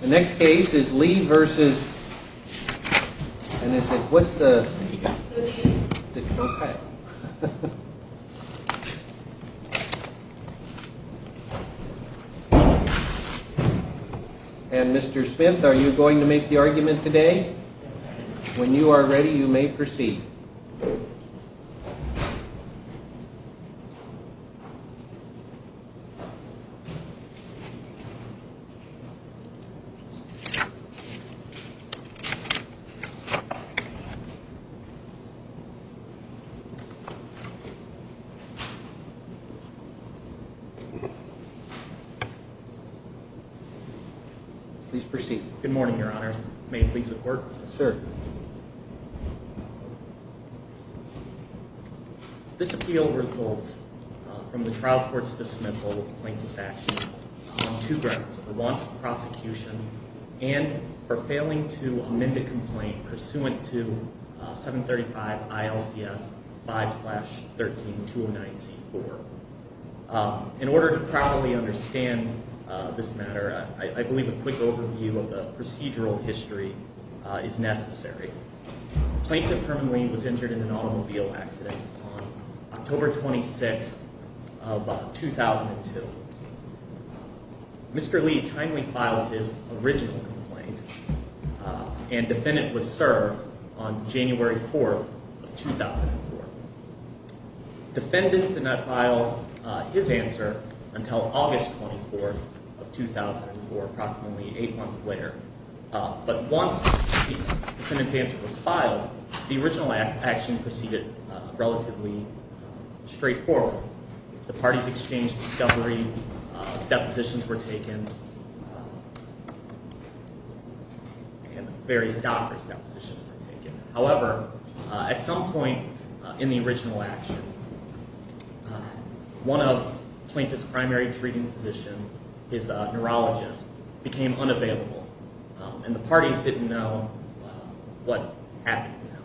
The next case is Lee v. Smith. Mr. Smith, are you going to make the argument today? When you are ready, you may proceed. Please proceed. Good morning, Your Honor. May I please have the court? Yes, sir. This appeal results from the trial court's dismissal of the plaintiff's action on two grounds. One, prosecution, and for failing to amend a complaint pursuant to 735 ILCS 5-13-209C-4. In order to properly understand this matter, I believe a quick overview of the procedural history is necessary. Plaintiff Herman Lee was injured in an automobile accident on October 26, 2002. Mr. Lee kindly filed his original complaint, and defendant was served on January 4, 2004. Defendant did not file his answer until August 24, 2004, approximately eight months later. But once the defendant's answer was filed, the original action proceeded relatively straightforward. The parties exchanged discovery, depositions were taken, and various doctors' depositions were taken. However, at some point in the original action, one of Plaintiff's primary treating physicians, his neurologist, became unavailable, and the parties didn't know what happened to him.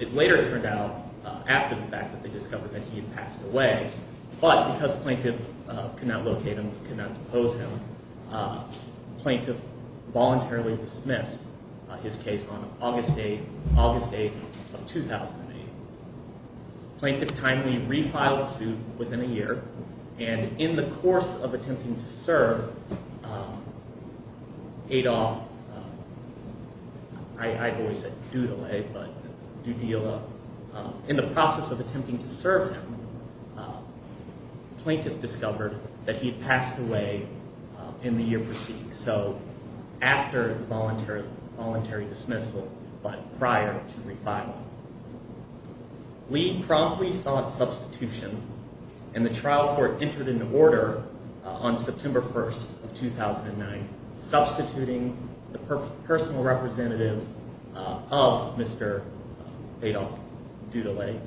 It later turned out, after the fact that they discovered that he had passed away, but because plaintiff could not locate him, could not depose him, plaintiff voluntarily dismissed his case on August 8, 2008. Plaintiff kindly refiled the suit within a year, and in the course of attempting to serve, Adolph, I've always said Doodle-A, but Doodle-A, in the process of attempting to serve him, plaintiff discovered that he had passed away in the year preceding. So, after voluntary dismissal, but prior to refiling. Lee promptly sought substitution, and the trial court entered into order on September 1, 2009, substituting the personal representatives of Mr. Adolph Doodle-A.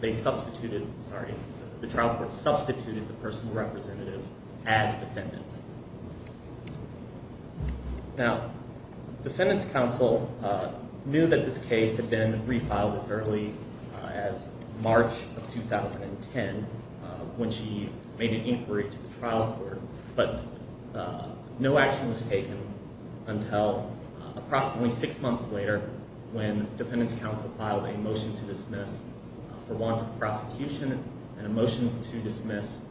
They substituted, sorry, the trial court substituted the personal representatives as defendants. Now, defendants counsel knew that this case had been refiled as early as March of 2010, when she made an inquiry to the trial court, but no action was taken until approximately six months later, when defendants counsel filed a motion to dismiss for want of prosecution, and a motion to dismiss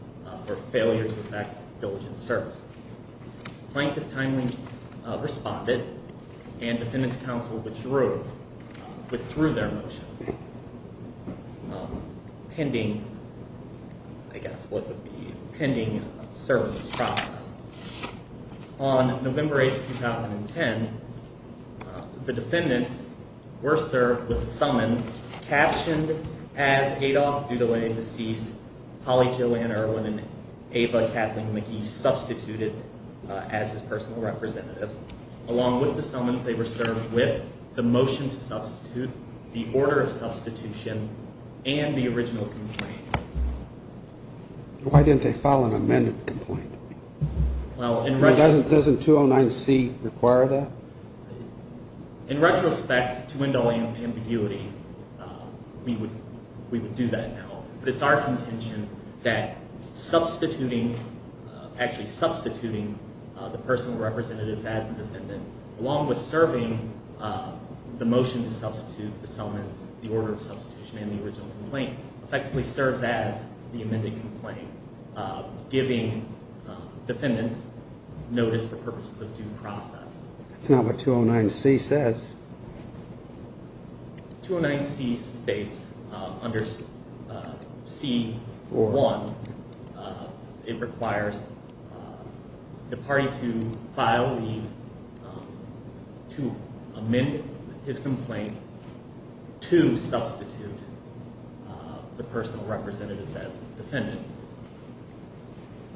for failure to effect diligent service. Plaintiff kindly responded, and defendants counsel withdrew their motion, pending, I guess, what would be a pending services process. On November 8, 2010, the defendants were served with summons, captioned as Adolph Doodle-A, deceased, Holly Joanne Irwin, and Ava Kathleen McGee, substituted as his personal representatives. Along with the summons, they were served with the motion to substitute, the order of substitution, and the original complaint. Why didn't they file an amended complaint? Doesn't 209C require that? In retrospect, to window ambiguity, we would do that now. But it's our contention that substituting, actually substituting the personal representatives as the defendant, along with serving the motion to substitute, the summons, the order of substitution, and the original complaint, effectively serves as the amended complaint, giving defendants notice for purposes of due process. That's not what 209C says. 209C states, under C-401, it requires the party to file the, to amend his complaint, to substitute the personal representatives as defendant.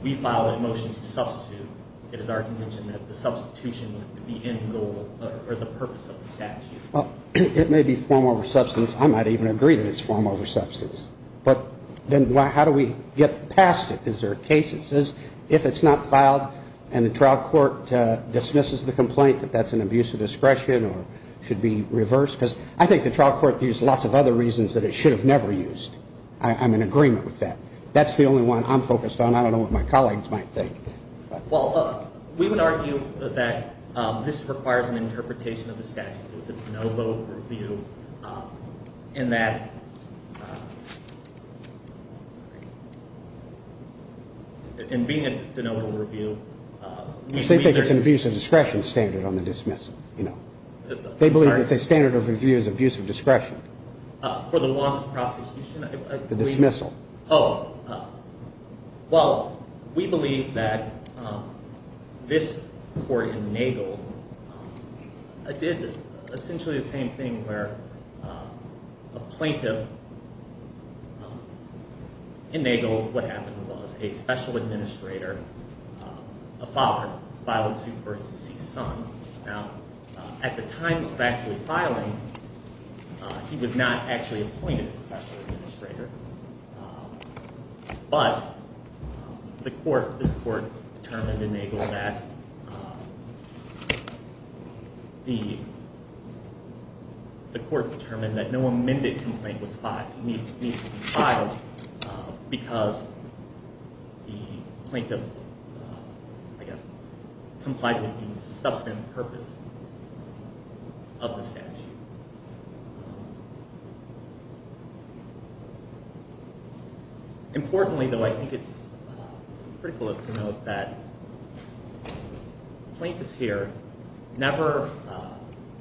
We file a motion to substitute. It is our contention that the substitution is the end goal or the purpose of the statute. Well, it may be form over substance. I might even agree that it's form over substance. But then how do we get past it? Is there a case that says, if it's not filed and the trial court dismisses the complaint, that that's an abuse of discretion or should be reversed? Because I think the trial court used lots of other reasons that it should have never used. I'm in agreement with that. That's the only one I'm focused on. I don't know what my colleagues might think. Well, we would argue that this requires an interpretation of the statute. It's a de novo review in that, in being a de novo review. They think it's an abuse of discretion standard on the dismissal. They believe that the standard of review is abuse of discretion. For the law and the prosecution? The dismissal. Oh. Well, we believe that this court in Nagel did essentially the same thing where a plaintiff in Nagel, what happened was a special administrator, a father, filed a suit for his deceased son. Now, at the time of actually filing, he was not actually appointed special administrator. But the court, this court, determined in Nagel that the court determined that no amended complaint was filed. Because the plaintiff, I guess, complied with the substantive purpose of the statute. Importantly, though, I think it's critical to note that plaintiffs here never,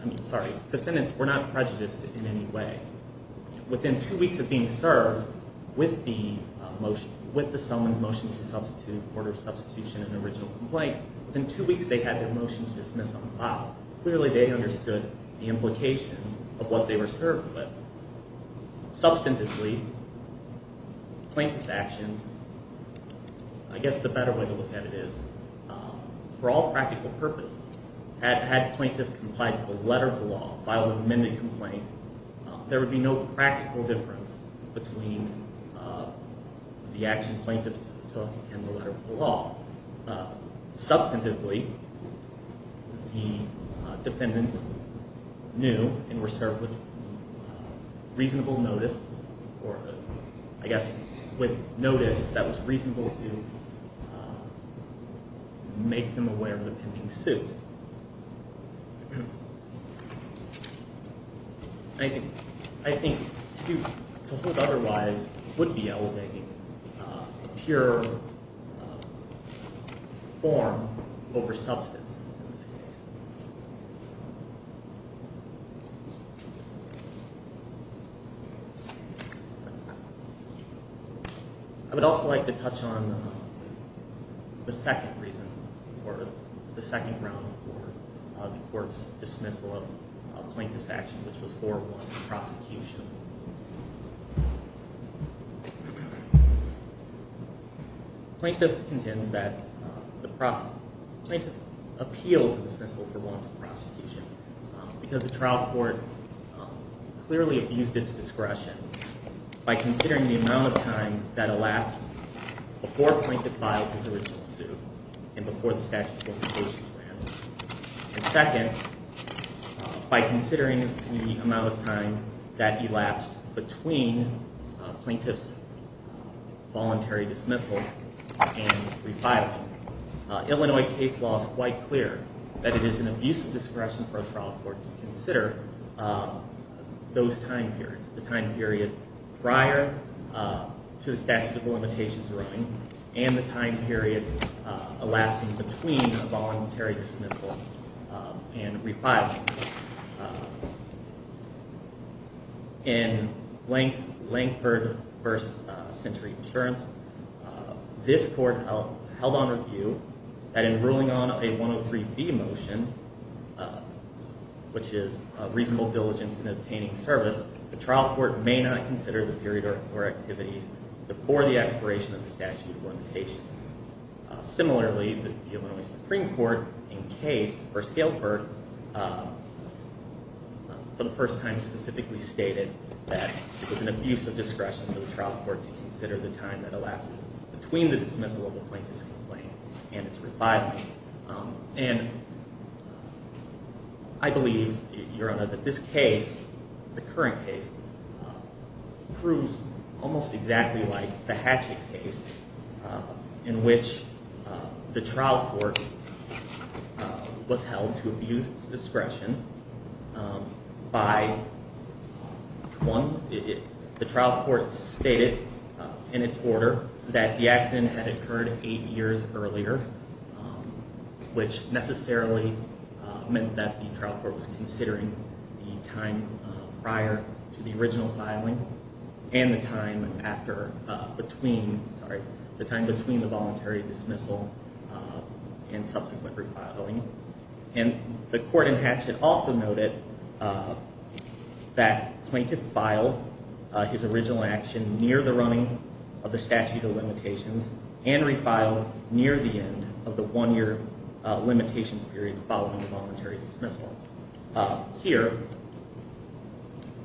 I mean, sorry, defendants were not prejudiced in any way. Within two weeks of being served with the motion, with the summons motion to substitute, order substitution and original complaint, within two weeks they had their motion to dismiss on file. Clearly they understood the implication of what they were served with. Substantively, plaintiff's actions, I guess the better way to look at it is, for all practical purposes, had plaintiff complied with the letter of the law, filed an amended complaint, there would be no practical difference between the action plaintiff took and the letter of the law. Substantively, the defendants knew and were served with reasonable notice, or I guess with notice that was reasonable to make them aware of the pending suit. I think to hold otherwise would be elevating pure form over substance in this case. I would also like to touch on the second reason for, the second round for the court's dismissal of plaintiff's action, which was 4-1, prosecution. Plaintiff contends that the, plaintiff appeals the dismissal for want of prosecution because the trial court clearly abused its discretion by considering the amount of time that elapsed before plaintiff filed his original suit and before the statute of limitations were added. And second, by considering the amount of time that elapsed between plaintiff's voluntary dismissal and refiling, Illinois case law is quite clear that it is an abusive discretion for a trial court to consider those time periods, the time period prior to the statute of limitations ruling and the time period elapsing between a voluntary dismissal and refiling. In Lankford v. Century Insurance, this court held on review that in ruling on a 103B motion, which is reasonable diligence in obtaining service, the trial court may not consider the period or activities before the expiration of the statute of limitations. Similarly, the Illinois Supreme Court in case v. Galesburg, for the first time specifically stated that it was an abusive discretion for the trial court to consider the time that elapses between the dismissal of a plaintiff's complaint and its refiling. And I believe, Your Honor, that this case, the current case, proves almost exactly like the Hatchett case in which the trial court was held to abuse discretion by one. The trial court stated in its order that the accident had occurred eight years earlier, which necessarily meant that the trial court was considering the time prior to the original filing and the time between the voluntary dismissal and subsequent refiling. And the court in Hatchett also noted that plaintiff filed his original action near the running of the statute of limitations and refiled near the end of the one-year limitations period following the voluntary dismissal. Here,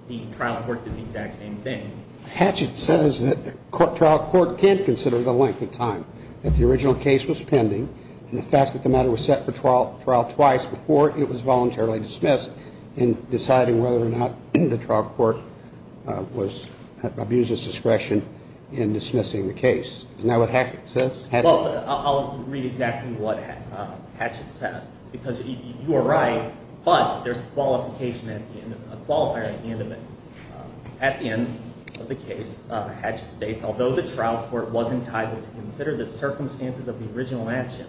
the trial court did the exact same thing. Hatchett says that the trial court can't consider the length of time that the original case was pending and the fact that the matter was set for trial twice before it was voluntarily dismissed in deciding whether or not the trial court abused its discretion in dismissing the case. Isn't that what Hatchett says? Well, I'll read exactly what Hatchett says because you are right, but there's a qualifier at the end of it. At the end of the case, Hatchett states, Although the trial court was entitled to consider the circumstances of the original action,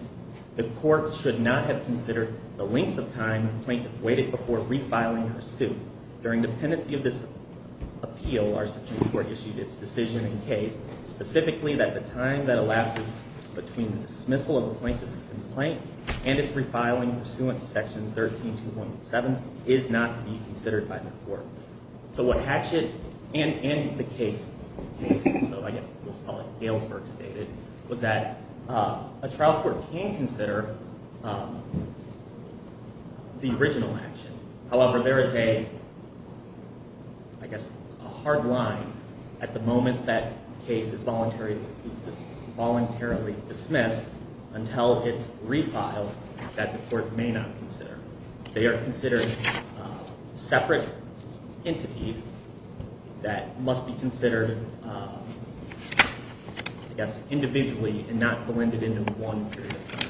the court should not have considered the length of time the plaintiff waited before refiling her suit. During dependency of this appeal, our Supreme Court issued its decision in case specifically that the time that elapses between the dismissal of the plaintiff's complaint and its refiling pursuant to Section 13217 is not to be considered by the court. So what Hatchett and the case, so I guess we'll call it Galesburg, stated was that a trial court can consider the original action. However, there is a, I guess, a hard line at the moment that case is voluntarily dismissed until it's refiled that the court may not consider. They are considered separate entities that must be considered, I guess, individually and not blended into one period of time.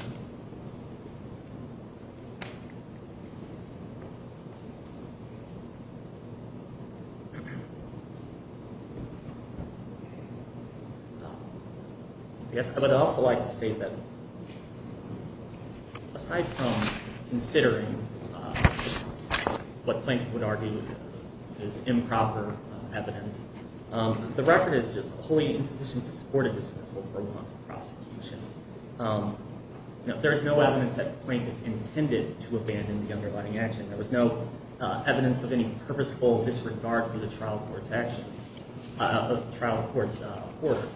I guess I would also like to state that aside from considering what plaintiff would argue is improper evidence, the record is just wholly insufficient to support a dismissal for one month of prosecution. There is no evidence that the plaintiff intended to abandon the underlying action. There was no evidence of any purposeful disregard for the trial court's action, trial court's orders.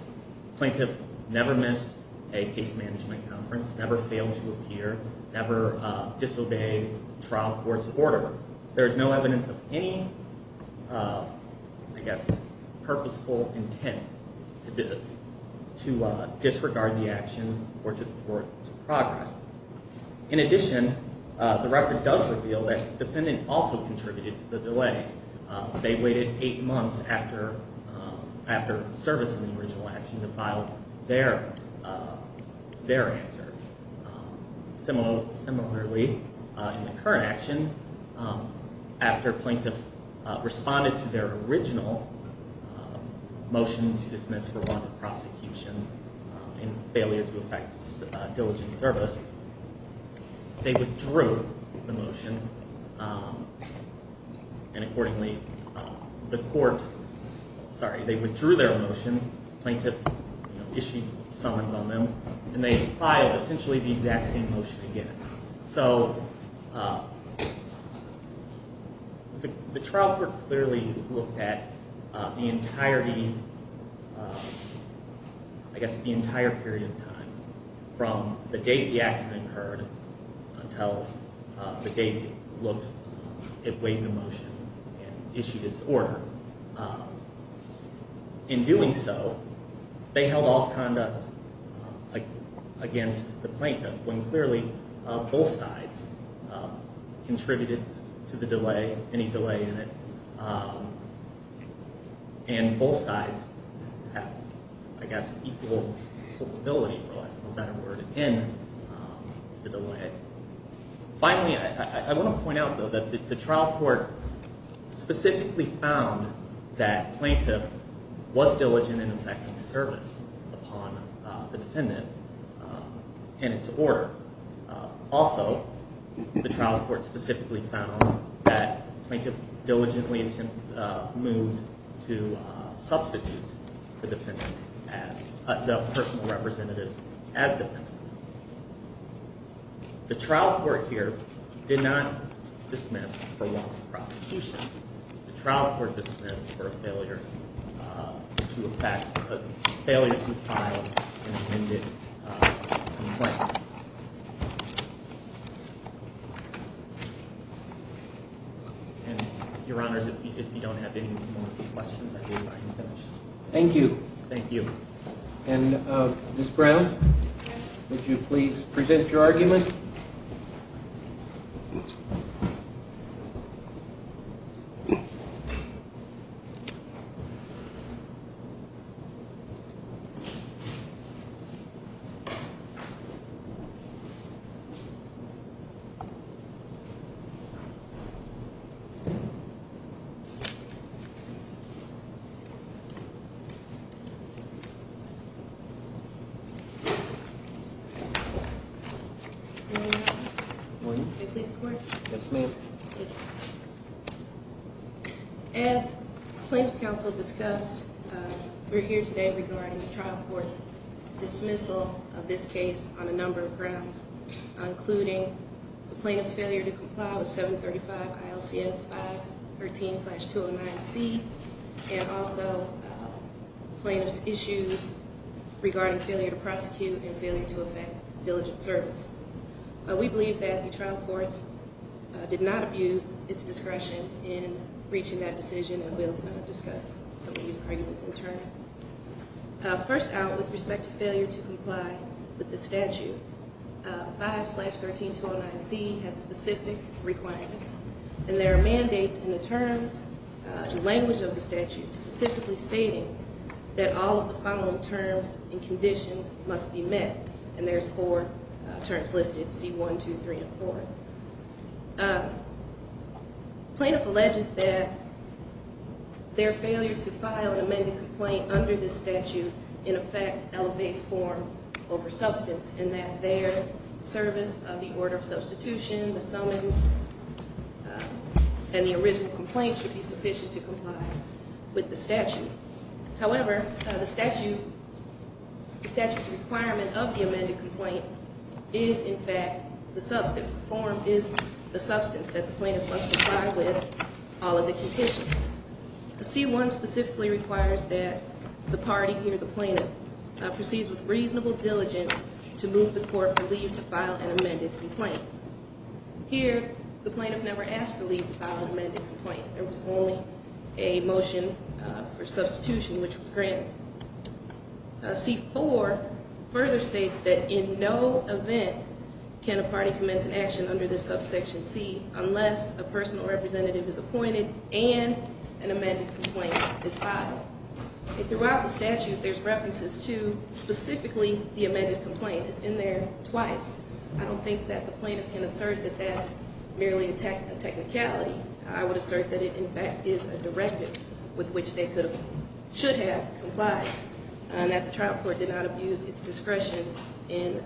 The plaintiff never missed a case management conference, never failed to appear, never disobeyed trial court's order. There is no evidence of any, I guess, purposeful intent to disregard the action or to thwart its progress. In addition, the record does reveal that the defendant also contributed to the delay. They waited eight months after servicing the original action to file their answer. Similarly, in the current action, after plaintiff responded to their original motion to dismiss for one month of prosecution and failure to effect diligent service, they withdrew the motion. And accordingly, the court, sorry, they withdrew their motion. The plaintiff issued summons on them and they filed essentially the exact same motion again. So the trial court clearly looked at the entirety, I guess, the entire period of time from the date the accident occurred until the date it weighed the motion and issued its order. In doing so, they held off conduct against the plaintiff when clearly both sides contributed to the delay, any delay in it. And both sides have, I guess, equal probability, for lack of a better word, in the delay. Finally, I want to point out, though, that the trial court specifically found that plaintiff was diligent in effecting service upon the defendant in its order. Also, the trial court specifically found that plaintiff diligently moved to substitute the defendants as, the personal representatives as defendants. The trial court here did not dismiss for one month of prosecution. The trial court dismissed for a failure to effect, a failure to file an amended complaint. And, Your Honors, if you don't have any more questions, I believe I am finished. Thank you. Thank you. And, Ms. Brown, would you please present your argument? Good morning. Good morning. May I please have a word? Yes, ma'am. Thank you. As plaintiff's counsel discussed, we're here today regarding the trial court's dismissal of this case on a number of grounds, including the plaintiff's failure to comply with 735 ILCS 513-209C, and also plaintiff's issues regarding failure to prosecute and failure to effect diligent service. We believe that the trial court did not abuse its discretion in reaching that decision, and we'll discuss some of these arguments in turn. First out, with respect to failure to comply with the statute, 5-13-209C has specific requirements, and there are mandates in the terms and language of the statute specifically stating that all of the following terms and conditions must be met, and there's four terms listed, C-1, 2, 3, and 4. Plaintiff alleges that their failure to file an amended complaint under this statute, in effect, elevates form over substance, and that their service of the order of substitution, the summons, and the original complaint should be sufficient to comply with the statute. However, the statute's requirement of the amended complaint is, in fact, the substance, form is the substance that the plaintiff must comply with all of the conditions. C-1 specifically requires that the party, here the plaintiff, proceeds with reasonable diligence to move the court for leave to file an amended complaint. Here, the plaintiff never asked for leave to file an amended complaint. There was only a motion for substitution, which was granted. C-4 further states that in no event can a party commence an action under this subsection C unless a personal representative is appointed and an amended complaint is filed. Throughout the statute, there's references to specifically the amended complaint. It's in there twice. I don't think that the plaintiff can assert that that's merely a technicality. I would assert that it, in fact, is a directive with which they should have complied, and that the trial court did not abuse its discretion in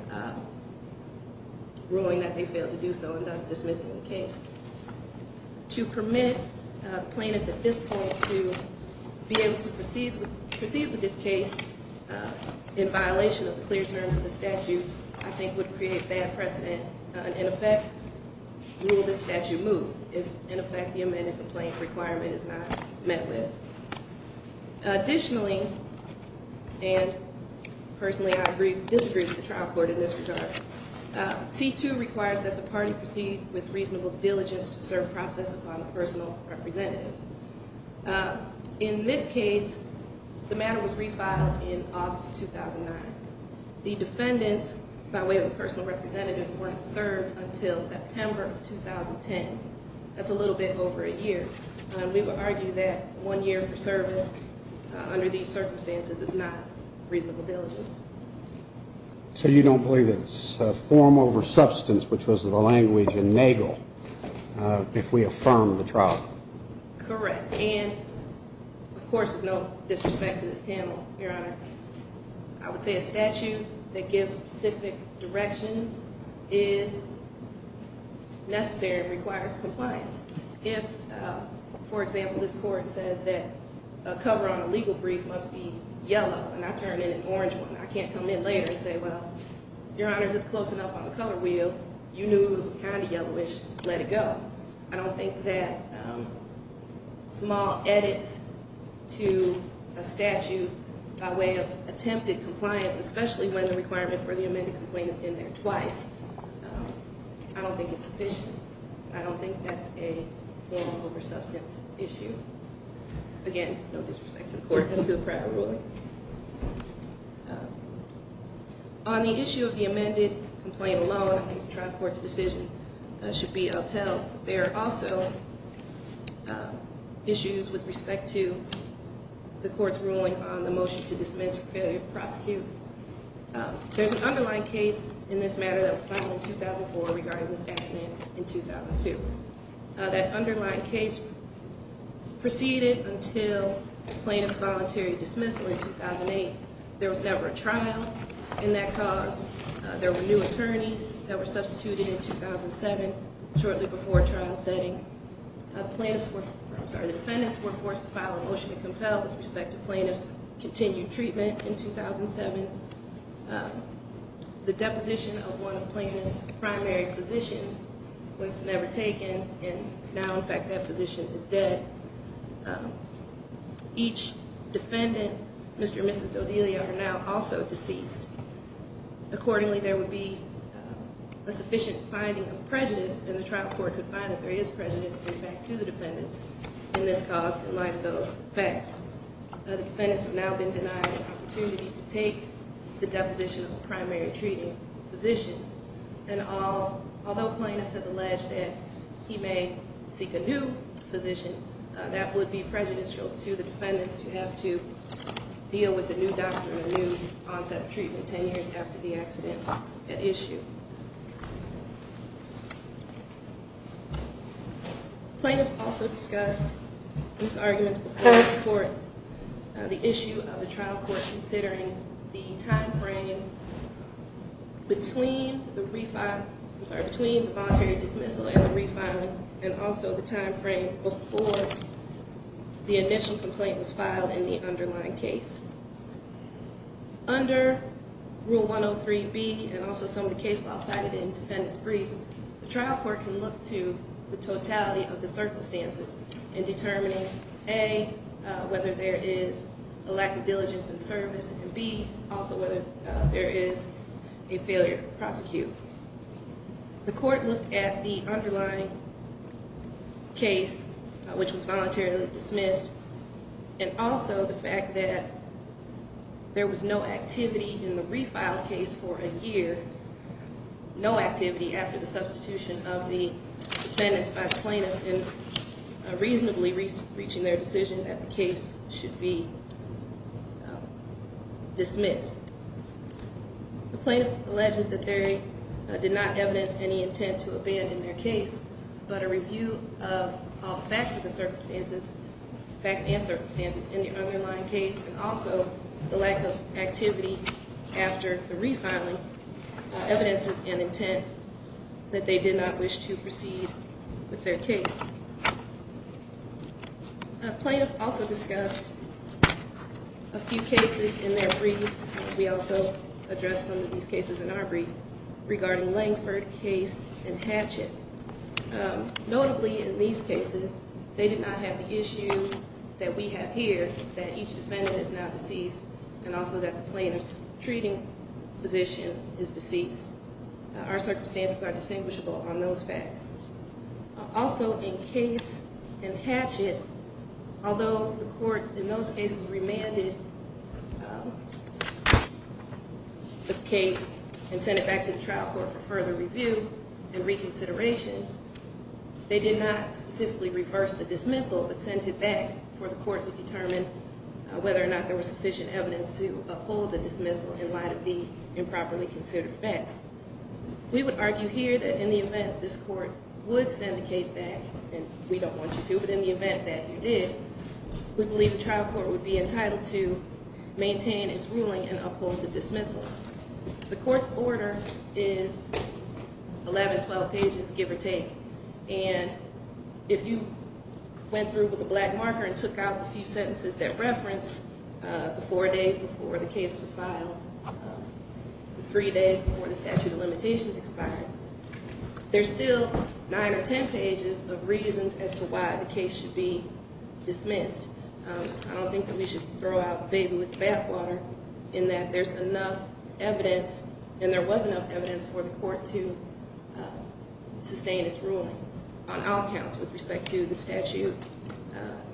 ruling that they failed to do so, and thus dismissing the case. To permit a plaintiff at this point to be able to proceed with this case in violation of the clear terms of the statute, I think would create bad precedent. In effect, will this statute move if, in effect, the amended complaint requirement is not met with? Additionally, and personally I disagree with the trial court in this regard, C-2 requires that the party proceed with reasonable diligence to serve process upon a personal representative. In this case, the matter was refiled in August of 2009. The defendants, by way of a personal representative, weren't served until September of 2010. That's a little bit over a year. We would argue that one year for service under these circumstances is not reasonable diligence. So you don't believe it's form over substance, which was the language in Nagel, if we affirm the trial? Correct. And, of course, with no disrespect to this panel, Your Honor, I would say a statute that gives specific directions is necessary and requires compliance. If, for example, this court says that a cover on a legal brief must be yellow, and I turn in an orange one, I can't come in later and say, well, Your Honors, it's close enough on the color wheel. You knew it was kind of yellowish. Let it go. I don't think that small edits to a statute by way of attempted compliance, especially when the requirement for the amended complaint is in there twice, I don't think it's sufficient. I don't think that's a form over substance issue. Again, no disrespect to the court as to the private ruling. On the issue of the amended complaint alone, I think the trial court's decision should be upheld. There are also issues with respect to the court's ruling on the motion to dismiss a failure to prosecute. There's an underlying case in this matter that was filed in 2004 regarding this accident in 2002. That underlying case proceeded until the plaintiff's voluntary dismissal in 2008. There was never a trial in that cause. There were new attorneys that were substituted in 2007, shortly before trial setting. The defendants were forced to file a motion to compel with respect to plaintiff's continued treatment in 2007. The deposition of one of the plaintiff's primary physicians was never taken, and now, in fact, that physician is dead. Each defendant, Mr. and Mrs. Dodelia, are now also deceased. Accordingly, there would be a sufficient finding of prejudice, and the trial court could find that there is prejudice, in fact, to the defendants in this cause, in light of those facts. The defendants have now been denied an opportunity to take the deposition of the primary treating physician. And although plaintiff has alleged that he may seek a new physician, that would be prejudicial to the defendants because you have to deal with a new doctor and a new onset of treatment 10 years after the accident at issue. Plaintiff also discussed these arguments before this court, the issue of the trial court considering the time frame between the voluntary dismissal and the refiling, and also the time frame before the initial complaint was filed in the underlying case. Under Rule 103B, and also some of the case law cited in defendants' briefs, the trial court can look to the totality of the circumstances in determining, A, whether there is a lack of diligence and service, and B, also whether there is a failure to prosecute. The court looked at the underlying case, which was voluntarily dismissed, and also the fact that there was no activity in the refiled case for a year, no activity after the substitution of the defendants by plaintiff in reasonably reaching their decision that the case should be dismissed. The plaintiff alleges that they did not evidence any intent to abandon their case, but a review of all the facts of the circumstances, facts and circumstances in the underlying case, and also the lack of activity after the refiling, evidences an intent that they did not wish to proceed with their case. A plaintiff also discussed a few cases in their briefs, and we also addressed some of these cases in our brief, regarding Langford, Case, and Hatchet. Notably, in these cases, they did not have the issue that we have here, that each defendant is now deceased, and also that the plaintiff's treating physician is deceased. Our circumstances are distinguishable on those facts. Also, in Case and Hatchet, although the court in those cases remanded the case and sent it back to the trial court for further review and reconsideration, they did not specifically reverse the dismissal, but sent it back for the court to determine whether or not there was sufficient evidence to uphold the dismissal in light of the improperly considered facts. We would argue here that in the event this court would send the case back, and we don't want you to, but in the event that you did, we believe the trial court would be entitled to maintain its ruling and uphold the dismissal. The court's order is 11, 12 pages, give or take, and if you went through with a black marker and took out the few sentences that reference the four days before the case was filed, the three days before the statute of limitations expired, there's still nine or ten pages of reasons as to why the case should be dismissed. I don't think that we should throw out the baby with the bathwater in that there's enough evidence, and there was enough evidence for the court to sustain its ruling on all counts with respect to the statute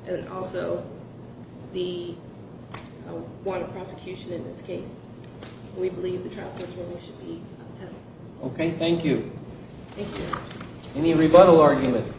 and also the warrant of prosecution in this case. We believe the trial court's ruling should be upheld. Okay, thank you. Thank you. Any rebuttal argument?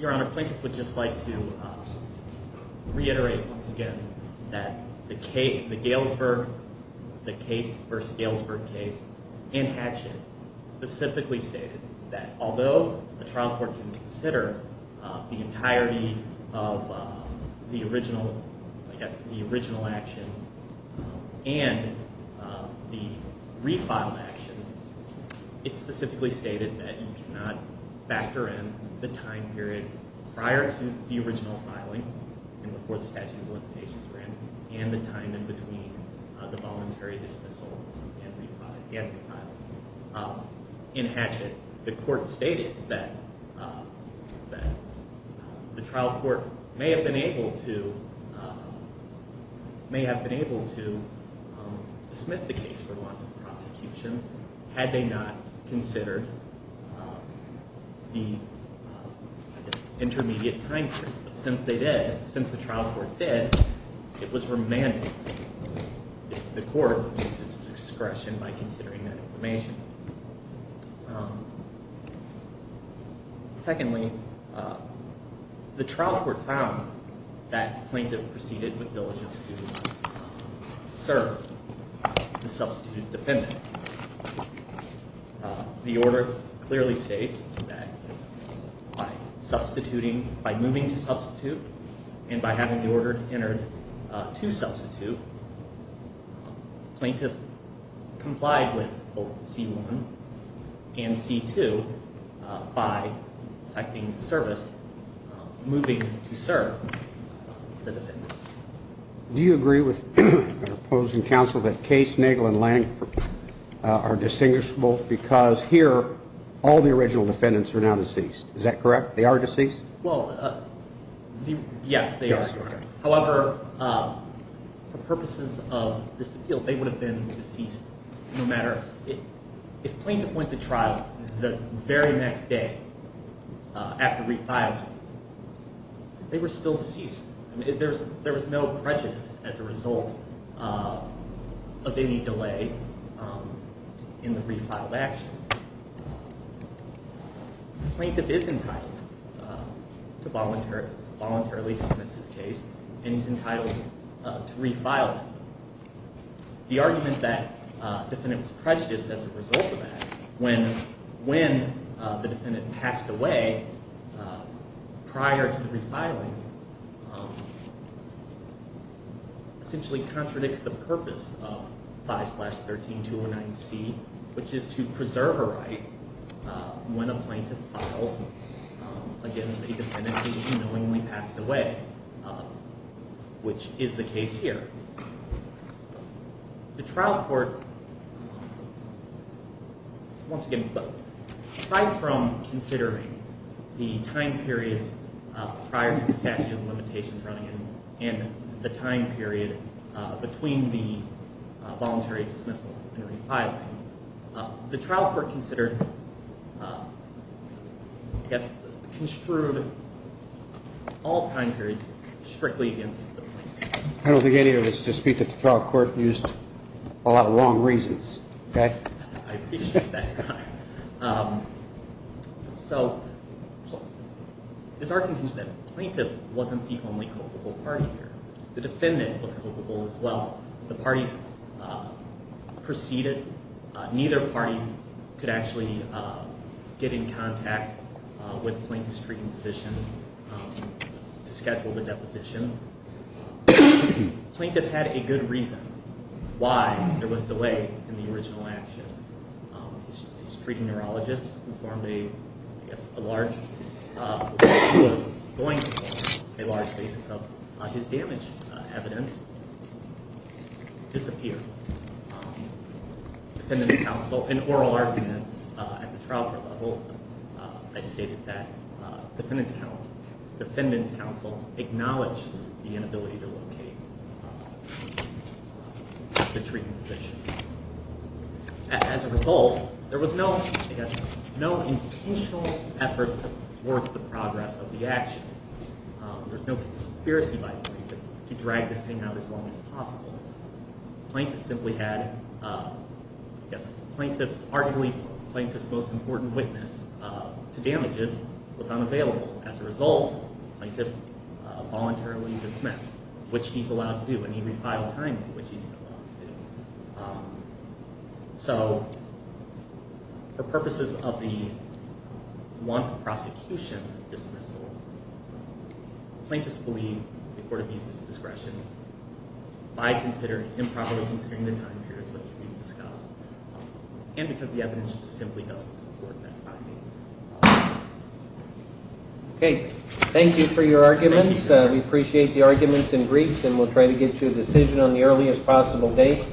Your Honor, Plinkett would just like to reiterate once again that the Galesburg, the case versus Galesburg case, and Hatchett specifically stated that although the trial court can consider the entirety of the original, the original action and the refiled action, it specifically stated that you cannot factor in the time periods prior to the original filing and before the statute of limitations were in and the time in between the voluntary dismissal and refiling. In Hatchett, the court stated that the trial court may have been able to dismiss the case for the warrant of prosecution had they not considered the intermediate time period. But since they did, since the trial court did, it was remanded to the court its discretion by considering that information. Secondly, the trial court found that Plinkett proceeded with diligence to serve the substitute defendants. The order clearly states that by substituting, by moving to substitute, and by having the order entered to substitute, Plinkett complied with both C1 and C2 by effecting service, moving to serve the defendants. Do you agree with our opposing counsel that Case, Nagel, and Lange are distinguishable because here all the original defendants are now deceased? Is that correct? They are deceased? Well, yes, they are. However, for purposes of this appeal, they would have been deceased no matter – If Plinkett went to trial the very next day after refiling, they were still deceased. There was no prejudice as a result of any delay in the refiled action. Plinkett is entitled to voluntarily dismiss his case and he's entitled to refiling. The argument that the defendant was prejudiced as a result of that, when the defendant passed away prior to refiling, essentially contradicts the purpose of 5-13-209C, which is to preserve a right when a plaintiff files against a defendant who has knowingly passed away, which is the case here. The trial court, once again, aside from considering the time periods prior to the statute of limitations running in and the time period between the voluntary dismissal and refiling, the trial court considered, I guess, construed all time periods strictly against the plaintiff. I don't think any of us dispute that the trial court used a lot of long reasons. I appreciate that. It's our conclusion that the plaintiff wasn't the only culpable party here. The defendant was culpable as well. The parties preceded. Neither party could actually get in contact with Plinkett's treating physician to schedule the deposition. Plinkett had a good reason why there was delay in the original action. His treating neurologist, who was going to perform a large basis of his damage evidence, disappeared. In oral arguments at the trial court level, I stated that the defendant's counsel acknowledged the inability to locate the treating physician. As a result, there was no intentional effort to thwart the progress of the action. There was no conspiracy by Plinkett to drag this thing out as long as possible. Plinkett simply had, I guess, Plinkett's, arguably Plinkett's most important witness to damages was unavailable. As a result, Plinkett voluntarily dismissed, which he's allowed to do. And he refiled time, which he's allowed to do. So, for purposes of the want of prosecution dismissal, plaintiffs believe the court abuses discretion by improperly considering the time periods which we discussed. And because the evidence simply doesn't support that finding. We appreciate the arguments and briefs, and we'll try to get to a decision on the earliest possible date.